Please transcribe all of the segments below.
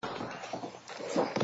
Samsung Electronics Co., Ltd. Samsung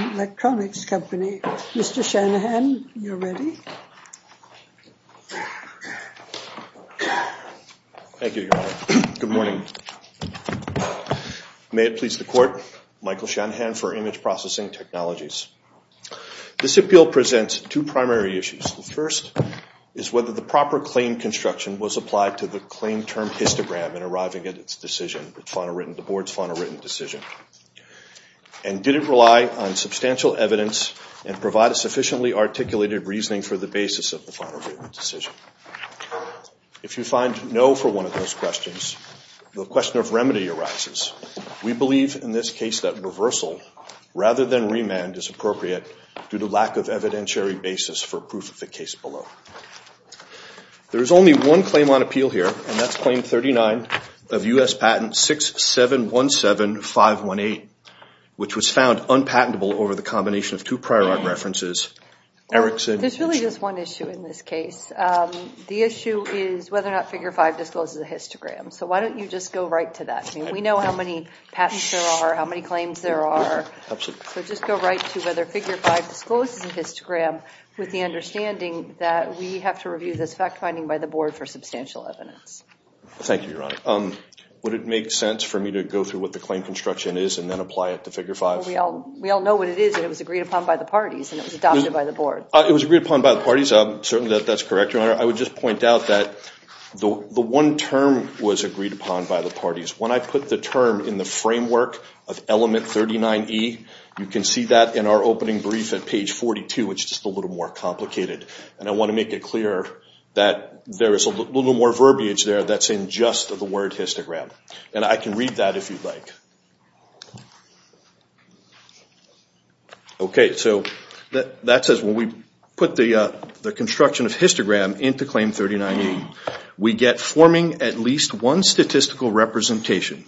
Electronics Co., Ltd. Samsung Electronics Co., Ltd. Thank you, Your Honor. Good morning. May it please the Court, Michael Shanahan for Image Processing Technologies. This appeal presents two primary issues. The first is whether the proper claim construction was applied to the claim term histogram in arriving at its decision, the Board's final written decision. And did it rely on substantial evidence and provide a sufficiently articulated reasoning for the basis of the final written decision? If you find no for one of those questions, the question of remedy arises. We believe in this case that reversal rather than remand is appropriate due to lack of evidentiary basis for proof of the case below. There is only one claim on appeal here, and that's Claim 39 of U.S. Patent 6717518, which was found unpatentable over the combination of two There's really just one issue in this case. The issue is whether or not Figure 5 discloses a histogram. So why don't you just go right to that? We know how many patents there are, how many claims there are. So just go right to whether Figure 5 discloses a histogram with the understanding that we have to review this fact finding by the Board for substantial evidence. Thank you, Your Honor. Would it make sense for me to go through what the claim on reconstruction is and then apply it to Figure 5? We all know what it is. It was agreed upon by the parties and it was adopted by the Board. It was agreed upon by the parties. Certainly that's correct, Your Honor. I would just point out that the one term was agreed upon by the parties. When I put the term in the framework of Element 39E, you can see that in our opening brief at page 42, which is just a little more complicated. And I want to make it clear that there is a little more verbiage there that's in just the word histogram. And I can read that if you'd like. Okay, so that says when we put the construction of histogram into Claim 39E, we get forming at least one statistical representation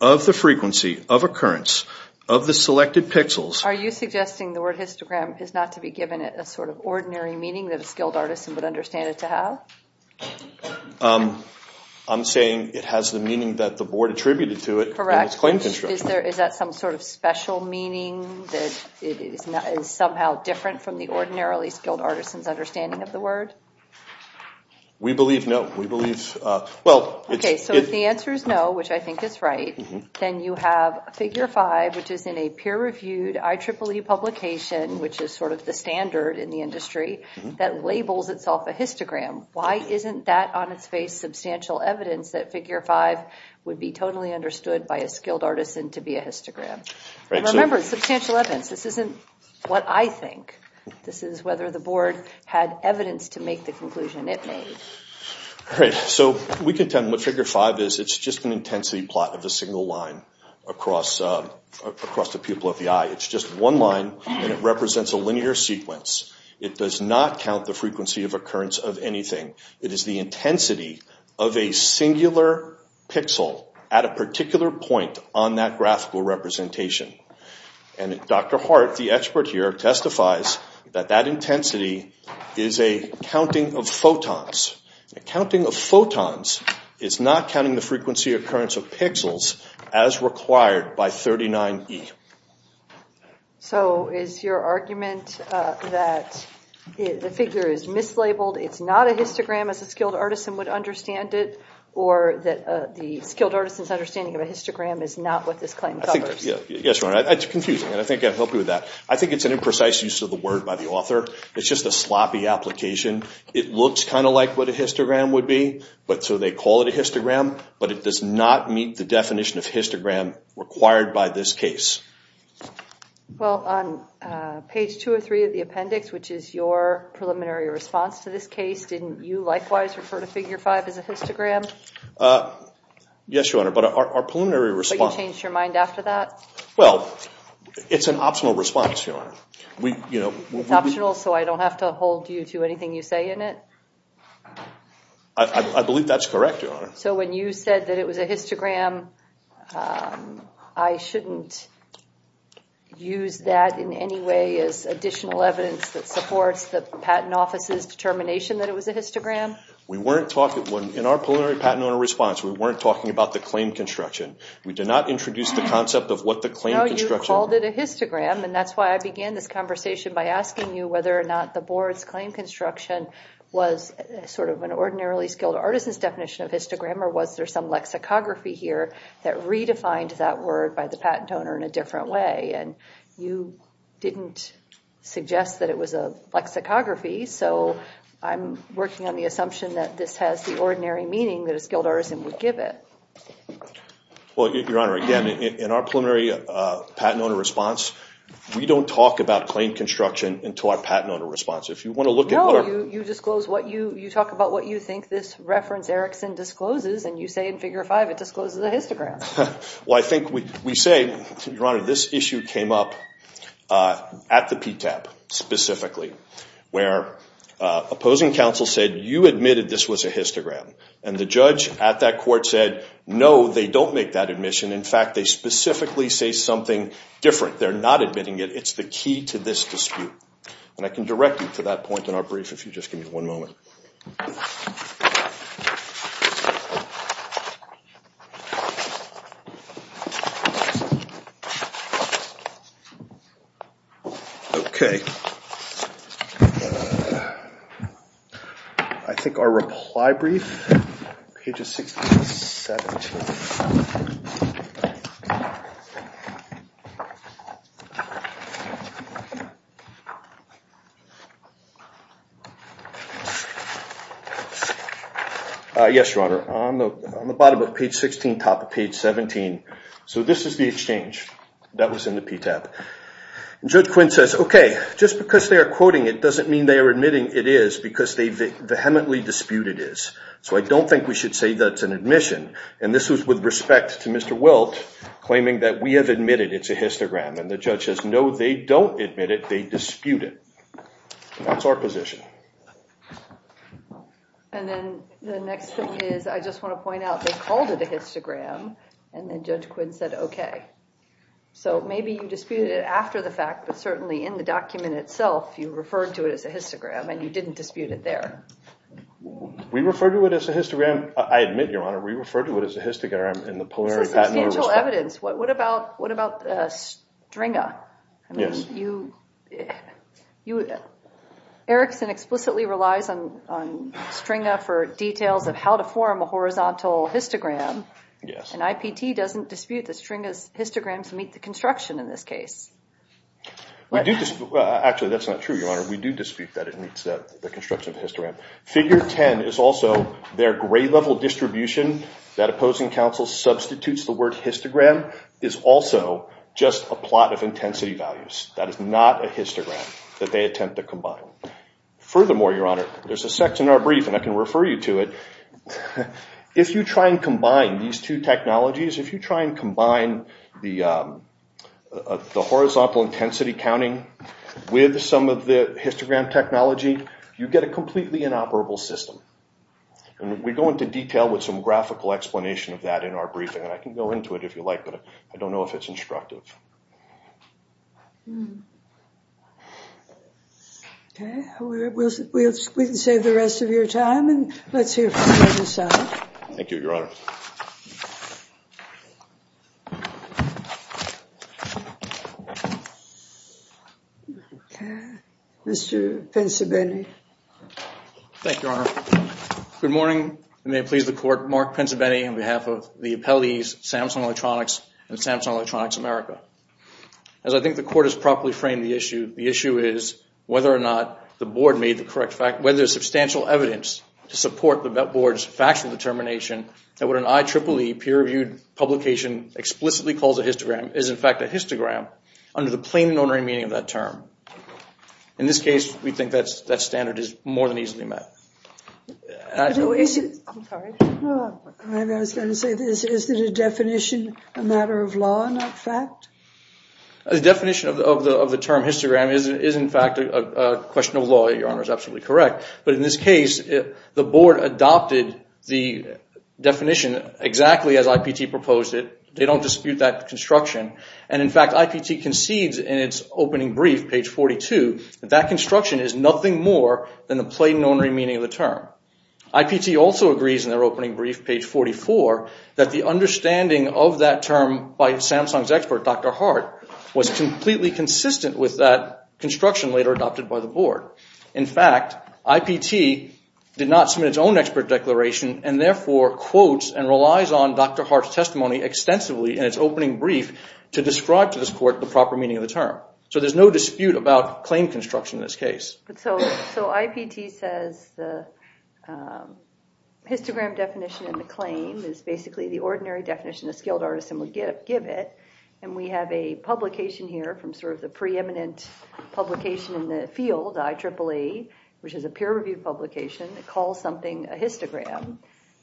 of the frequency of occurrence of the selected pixels. Are you suggesting the word histogram is not to be given a sort of ordinary meaning that a skilled artisan would understand it to have? I'm saying it has the meaning that the Board attributed to it in its claim construction. Is that some sort of special meaning that is somehow different from the ordinarily skilled artisan's understanding of the word? We believe no. Okay, so if the answer is no, which I think is right, then you have Figure 5, which is in a peer-reviewed IEEE publication, which is sort of the standard in the industry, that labels itself a histogram. Why isn't that on its face substantial evidence that Figure 5 would be totally understood by a skilled artisan to be a histogram? Remember, substantial evidence. This isn't what I think. This is whether the Board had evidence to make the conclusion it made. Right, so we can tell what Figure 5 is. It's just an intensity plot of a single line across the pupil of the eye. It's just one line, and it represents a linear sequence. It does not count the frequency of occurrence of anything. It is the intensity of a singular pixel at a particular point on that graphical representation. And Dr. Hart, the expert here, testifies that that intensity is a counting of photons. A counting of photons is not counting the frequency occurrence of pixels as required by 39E. So is your argument that the figure is mislabeled, it's not a histogram as a skilled artisan would understand it, or that the skilled artisan's understanding of a histogram is not what this claim covers? Yes, it's confusing, and I think I can help you with that. I think it's an imprecise use of the word by the author. It's just a sloppy application. It looks kind of like what a histogram would be, so they call it a histogram, but it does not meet the definition of histogram required by this case. Well, on page two or three of the appendix, which is your preliminary response to this case, didn't you likewise refer to Figure 5 as a histogram? Yes, Your Honor, but our preliminary response— But you changed your mind after that? Well, it's an optional response, Your Honor. It's optional, so I don't have to hold you to anything you say in it? I believe that's correct, Your Honor. So when you said that it was a histogram, I shouldn't use that in any way as additional evidence that supports the Patent Office's determination that it was a histogram? In our preliminary patent owner response, we weren't talking about the claim construction. We did not introduce the concept of what the claim construction— No, you called it a histogram, and that's why I began this conversation by asking you whether or not the board's claim construction was sort of an ordinarily skilled artisan's definition of histogram, or was there some lexicography here that redefined that word by the patent owner in a different way? And you didn't suggest that it was a lexicography, so I'm working on the assumption that this has the ordinary meaning that a skilled artisan would give it. Well, Your Honor, again, in our preliminary patent owner response, we don't talk about claim construction until our patent owner response. If you want to look at— No, you talk about what you think this reference, Erickson, discloses, and you say in Figure 5 it discloses a histogram. Well, I think we say, Your Honor, this issue came up at the PTAP specifically, where opposing counsel said, you admitted this was a histogram, and the judge at that court said, no, they don't make that admission. In fact, they specifically say something different. They're not admitting it. It's the key to this dispute. And I can direct you to that point in our brief if you just give me one moment. Okay. I think our reply brief, pages 16 to 17. Yes, Your Honor. On the bottom of page 16, top of page 17. So this is the exchange that was in the PTAP. And Judge Quinn says, okay, just because they are quoting it doesn't mean they are admitting it is because they vehemently dispute it is. So I don't think we should say that's an admission. And this was with respect to Mr. Wilt claiming that we have admitted it's a histogram. And the judge says, no, they don't admit it. They dispute it. That's our position. And then the next thing is I just want to point out they called it a histogram, and then Judge Quinn said, okay. So maybe you disputed it after the fact, but certainly in the document itself you referred to it as a histogram and you didn't dispute it there. We referred to it as a histogram. I admit, Your Honor, we referred to it as a histogram in the Polari patent. This is substantial evidence. What about Stringa? Yes. Erickson explicitly relies on Stringa for details of how to form a horizontal histogram. Yes. And IPT doesn't dispute that Stringa's histograms meet the construction in this case. Actually, that's not true, Your Honor. We do dispute that it meets the construction of the histogram. Figure 10 is also their gray-level distribution. That opposing counsel substitutes the word histogram is also just a plot of intensity values. That is not a histogram that they attempt to combine. Furthermore, Your Honor, there's a section in our brief, and I can refer you to it. If you try and combine these two technologies, if you try and combine the horizontal intensity counting with some of the histogram technology, you get a completely inoperable system. And we go into detail with some graphical explanation of that in our briefing, and I can go into it if you like, but I don't know if it's instructive. Hmm. Okay. We'll save the rest of your time, and let's hear from the other side. Thank you, Your Honor. Okay. Mr. Pincibetti. Thank you, Your Honor. Good morning, and may it please the Court, Mark Pincibetti, on behalf of the appellees, Samsung Electronics and Samsung Electronics America. As I think the Court has properly framed the issue, the issue is whether or not the Board made the correct fact, whether there's substantial evidence to support the Board's factual determination that what an IEEE peer-reviewed publication explicitly calls a histogram is in fact a histogram under the plain and ordinary meaning of that term. In this case, we think that standard is more than easily met. I was going to say, is the definition a matter of law, not fact? The definition of the term histogram is in fact a question of law, Your Honor, is absolutely correct. But in this case, the Board adopted the definition exactly as IPT proposed it. They don't dispute that construction. And, in fact, IPT concedes in its opening brief, page 42, that that construction is nothing more than the plain and ordinary meaning of the term. IPT also agrees in their opening brief, page 44, that the understanding of that term by Samsung's expert, Dr. Hart, was completely consistent with that construction later adopted by the Board. In fact, IPT did not submit its own expert declaration and, therefore, quotes and relies on Dr. Hart's testimony extensively in its opening brief to describe to this Court the proper meaning of the term. So there's no dispute about claim construction in this case. So IPT says the histogram definition in the claim is basically the ordinary definition a skilled artisan would give it. And we have a publication here from sort of the preeminent publication in the field, IEEE, which is a peer-reviewed publication. It calls something a histogram.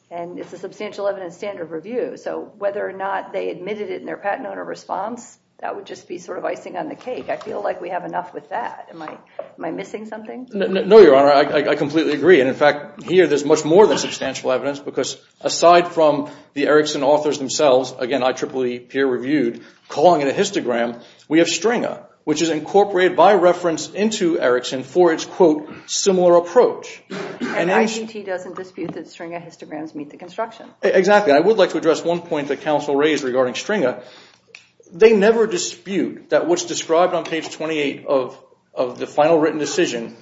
And it's a substantial evidence standard review. So whether or not they admitted it in their patent owner response, that would just be sort of icing on the cake. I feel like we have enough with that. Am I missing something? No, Your Honor. I completely agree. And, in fact, here there's much more than substantial evidence because aside from the Erickson authors themselves, again, IEEE peer-reviewed, calling it a histogram, we have Stringer, which is incorporated by reference into Erickson for its, quote, similar approach. And IPT doesn't dispute that Stringer histograms meet the construction. Exactly. I would like to address one point that counsel raised regarding Stringer. They never dispute that what's described on page 28 of the final written decision,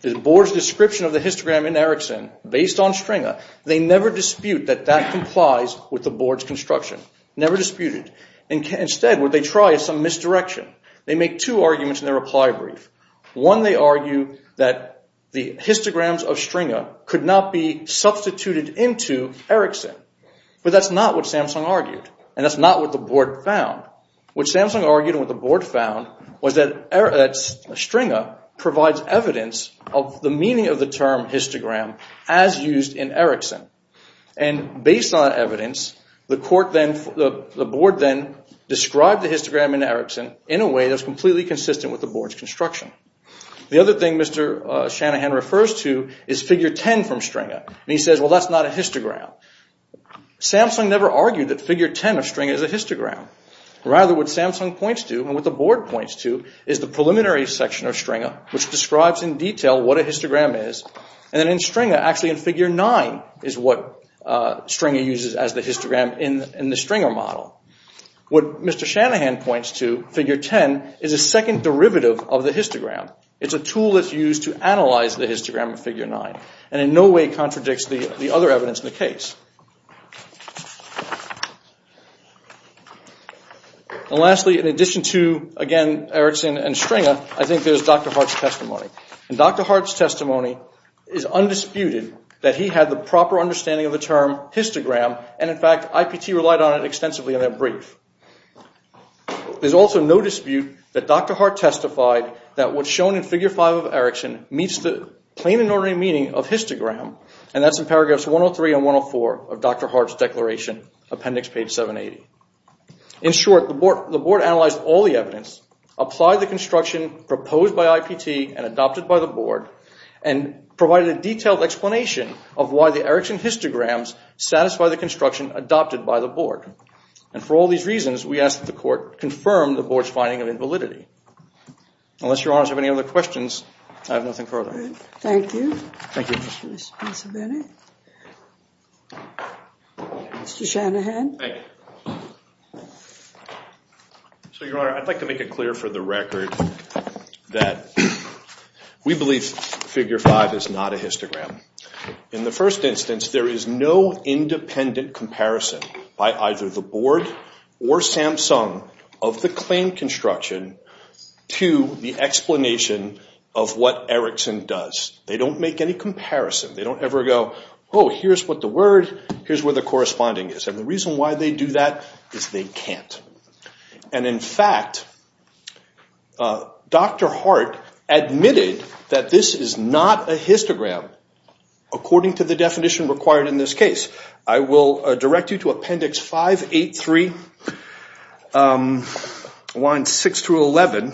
the board's description of the histogram in Erickson based on Stringer, they never dispute that that complies with the board's construction. Never disputed. Instead, what they try is some misdirection. They make two arguments in their reply brief. One, they argue that the histograms of Stringer could not be substituted into Erickson. But that's not what Samsung argued. And that's not what the board found. What Samsung argued and what the board found was that Stringer provides evidence of the meaning of the term histogram as used in Erickson. And based on that evidence, the board then described the histogram in Erickson in a way that was completely consistent with the board's construction. The other thing Mr. Shanahan refers to is Figure 10 from Stringer. And he says, well, that's not a histogram. Samsung never argued that Figure 10 of Stringer is a histogram. Rather, what Samsung points to and what the board points to is the preliminary section of Stringer, which describes in detail what a histogram is. And then in Stringer, actually in Figure 9, is what Stringer uses as the histogram in the Stringer model. What Mr. Shanahan points to, Figure 10, is a second derivative of the histogram. It's a tool that's used to analyze the histogram in Figure 9 and in no way contradicts the other evidence in the case. And lastly, in addition to, again, Erickson and Stringer, I think there's Dr. Hart's testimony. And Dr. Hart's testimony is undisputed that he had the proper understanding of the term histogram and, in fact, IPT relied on it extensively in their brief. There's also no dispute that Dr. Hart testified that what's shown in Figure 5 of Erickson meets the plain and ordinary meaning of histogram, and that's in paragraphs 103 and 104 of Dr. Hart's declaration, appendix page 780. In short, the board analyzed all the evidence, applied the construction proposed by IPT and adopted by the board, and provided a detailed explanation of why the Erickson histograms satisfy the construction adopted by the board. And for all these reasons, we ask that the court confirm the board's finding of invalidity. Unless your honors have any other questions, I have nothing further. Thank you. Thank you. Mr. Shanahan. Thank you. So, your honor, I'd like to make it clear for the record that we believe Figure 5 is not a histogram. In the first instance, there is no independent comparison by either the board or Samsung of the claim construction to the explanation of what Erickson does. They don't make any comparison. They don't ever go, oh, here's what the word, here's where the corresponding is. And the reason why they do that is they can't. And in fact, Dr. Hart admitted that this is not a histogram according to the definition required in this case. I will direct you to appendix 583, lines 6 through 11,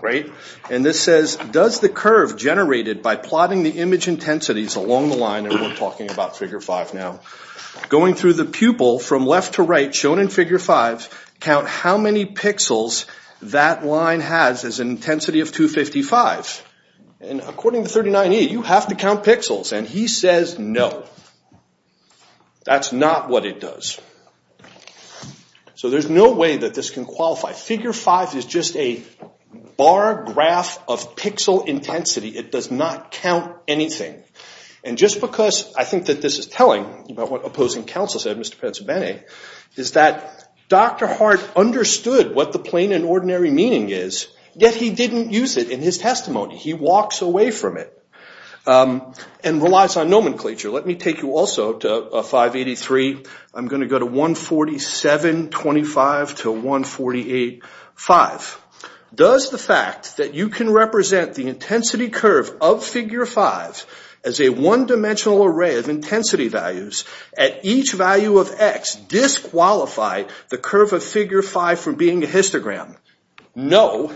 right? And this says, does the curve generated by plotting the image intensities along the line, and we're talking about Figure 5 now, going through the pupil from left to right shown in Figure 5, count how many pixels that line has as an intensity of 255. And according to 39E, you have to count pixels. And he says no. That's not what it does. So there's no way that this can qualify. Figure 5 is just a bar graph of pixel intensity. It does not count anything. And just because I think that this is telling about what opposing counsel said, Mr. Penzebene, is that Dr. Hart understood what the plain and ordinary meaning is, yet he didn't use it in his testimony. He walks away from it and relies on nomenclature. Let me take you also to 583. I'm going to go to 147.25 to 148.5. Does the fact that you can represent the intensity curve of Figure 5 as a one-dimensional array of intensity values at each value of x disqualify the curve of Figure 5 from being a histogram? No,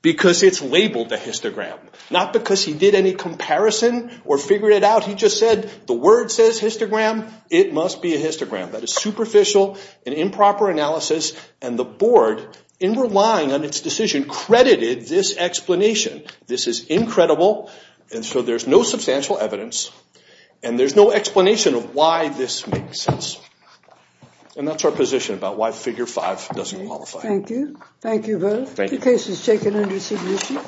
because it's labeled a histogram. Not because he did any comparison or figured it out. He just said the word says histogram. It must be a histogram. That is superficial and improper analysis. And the board, in relying on its decision, credited this explanation. This is incredible, and so there's no substantial evidence, and there's no explanation of why this makes sense. And that's our position about why Figure 5 doesn't qualify. Thank you. Thank you both. The case is taken under submission.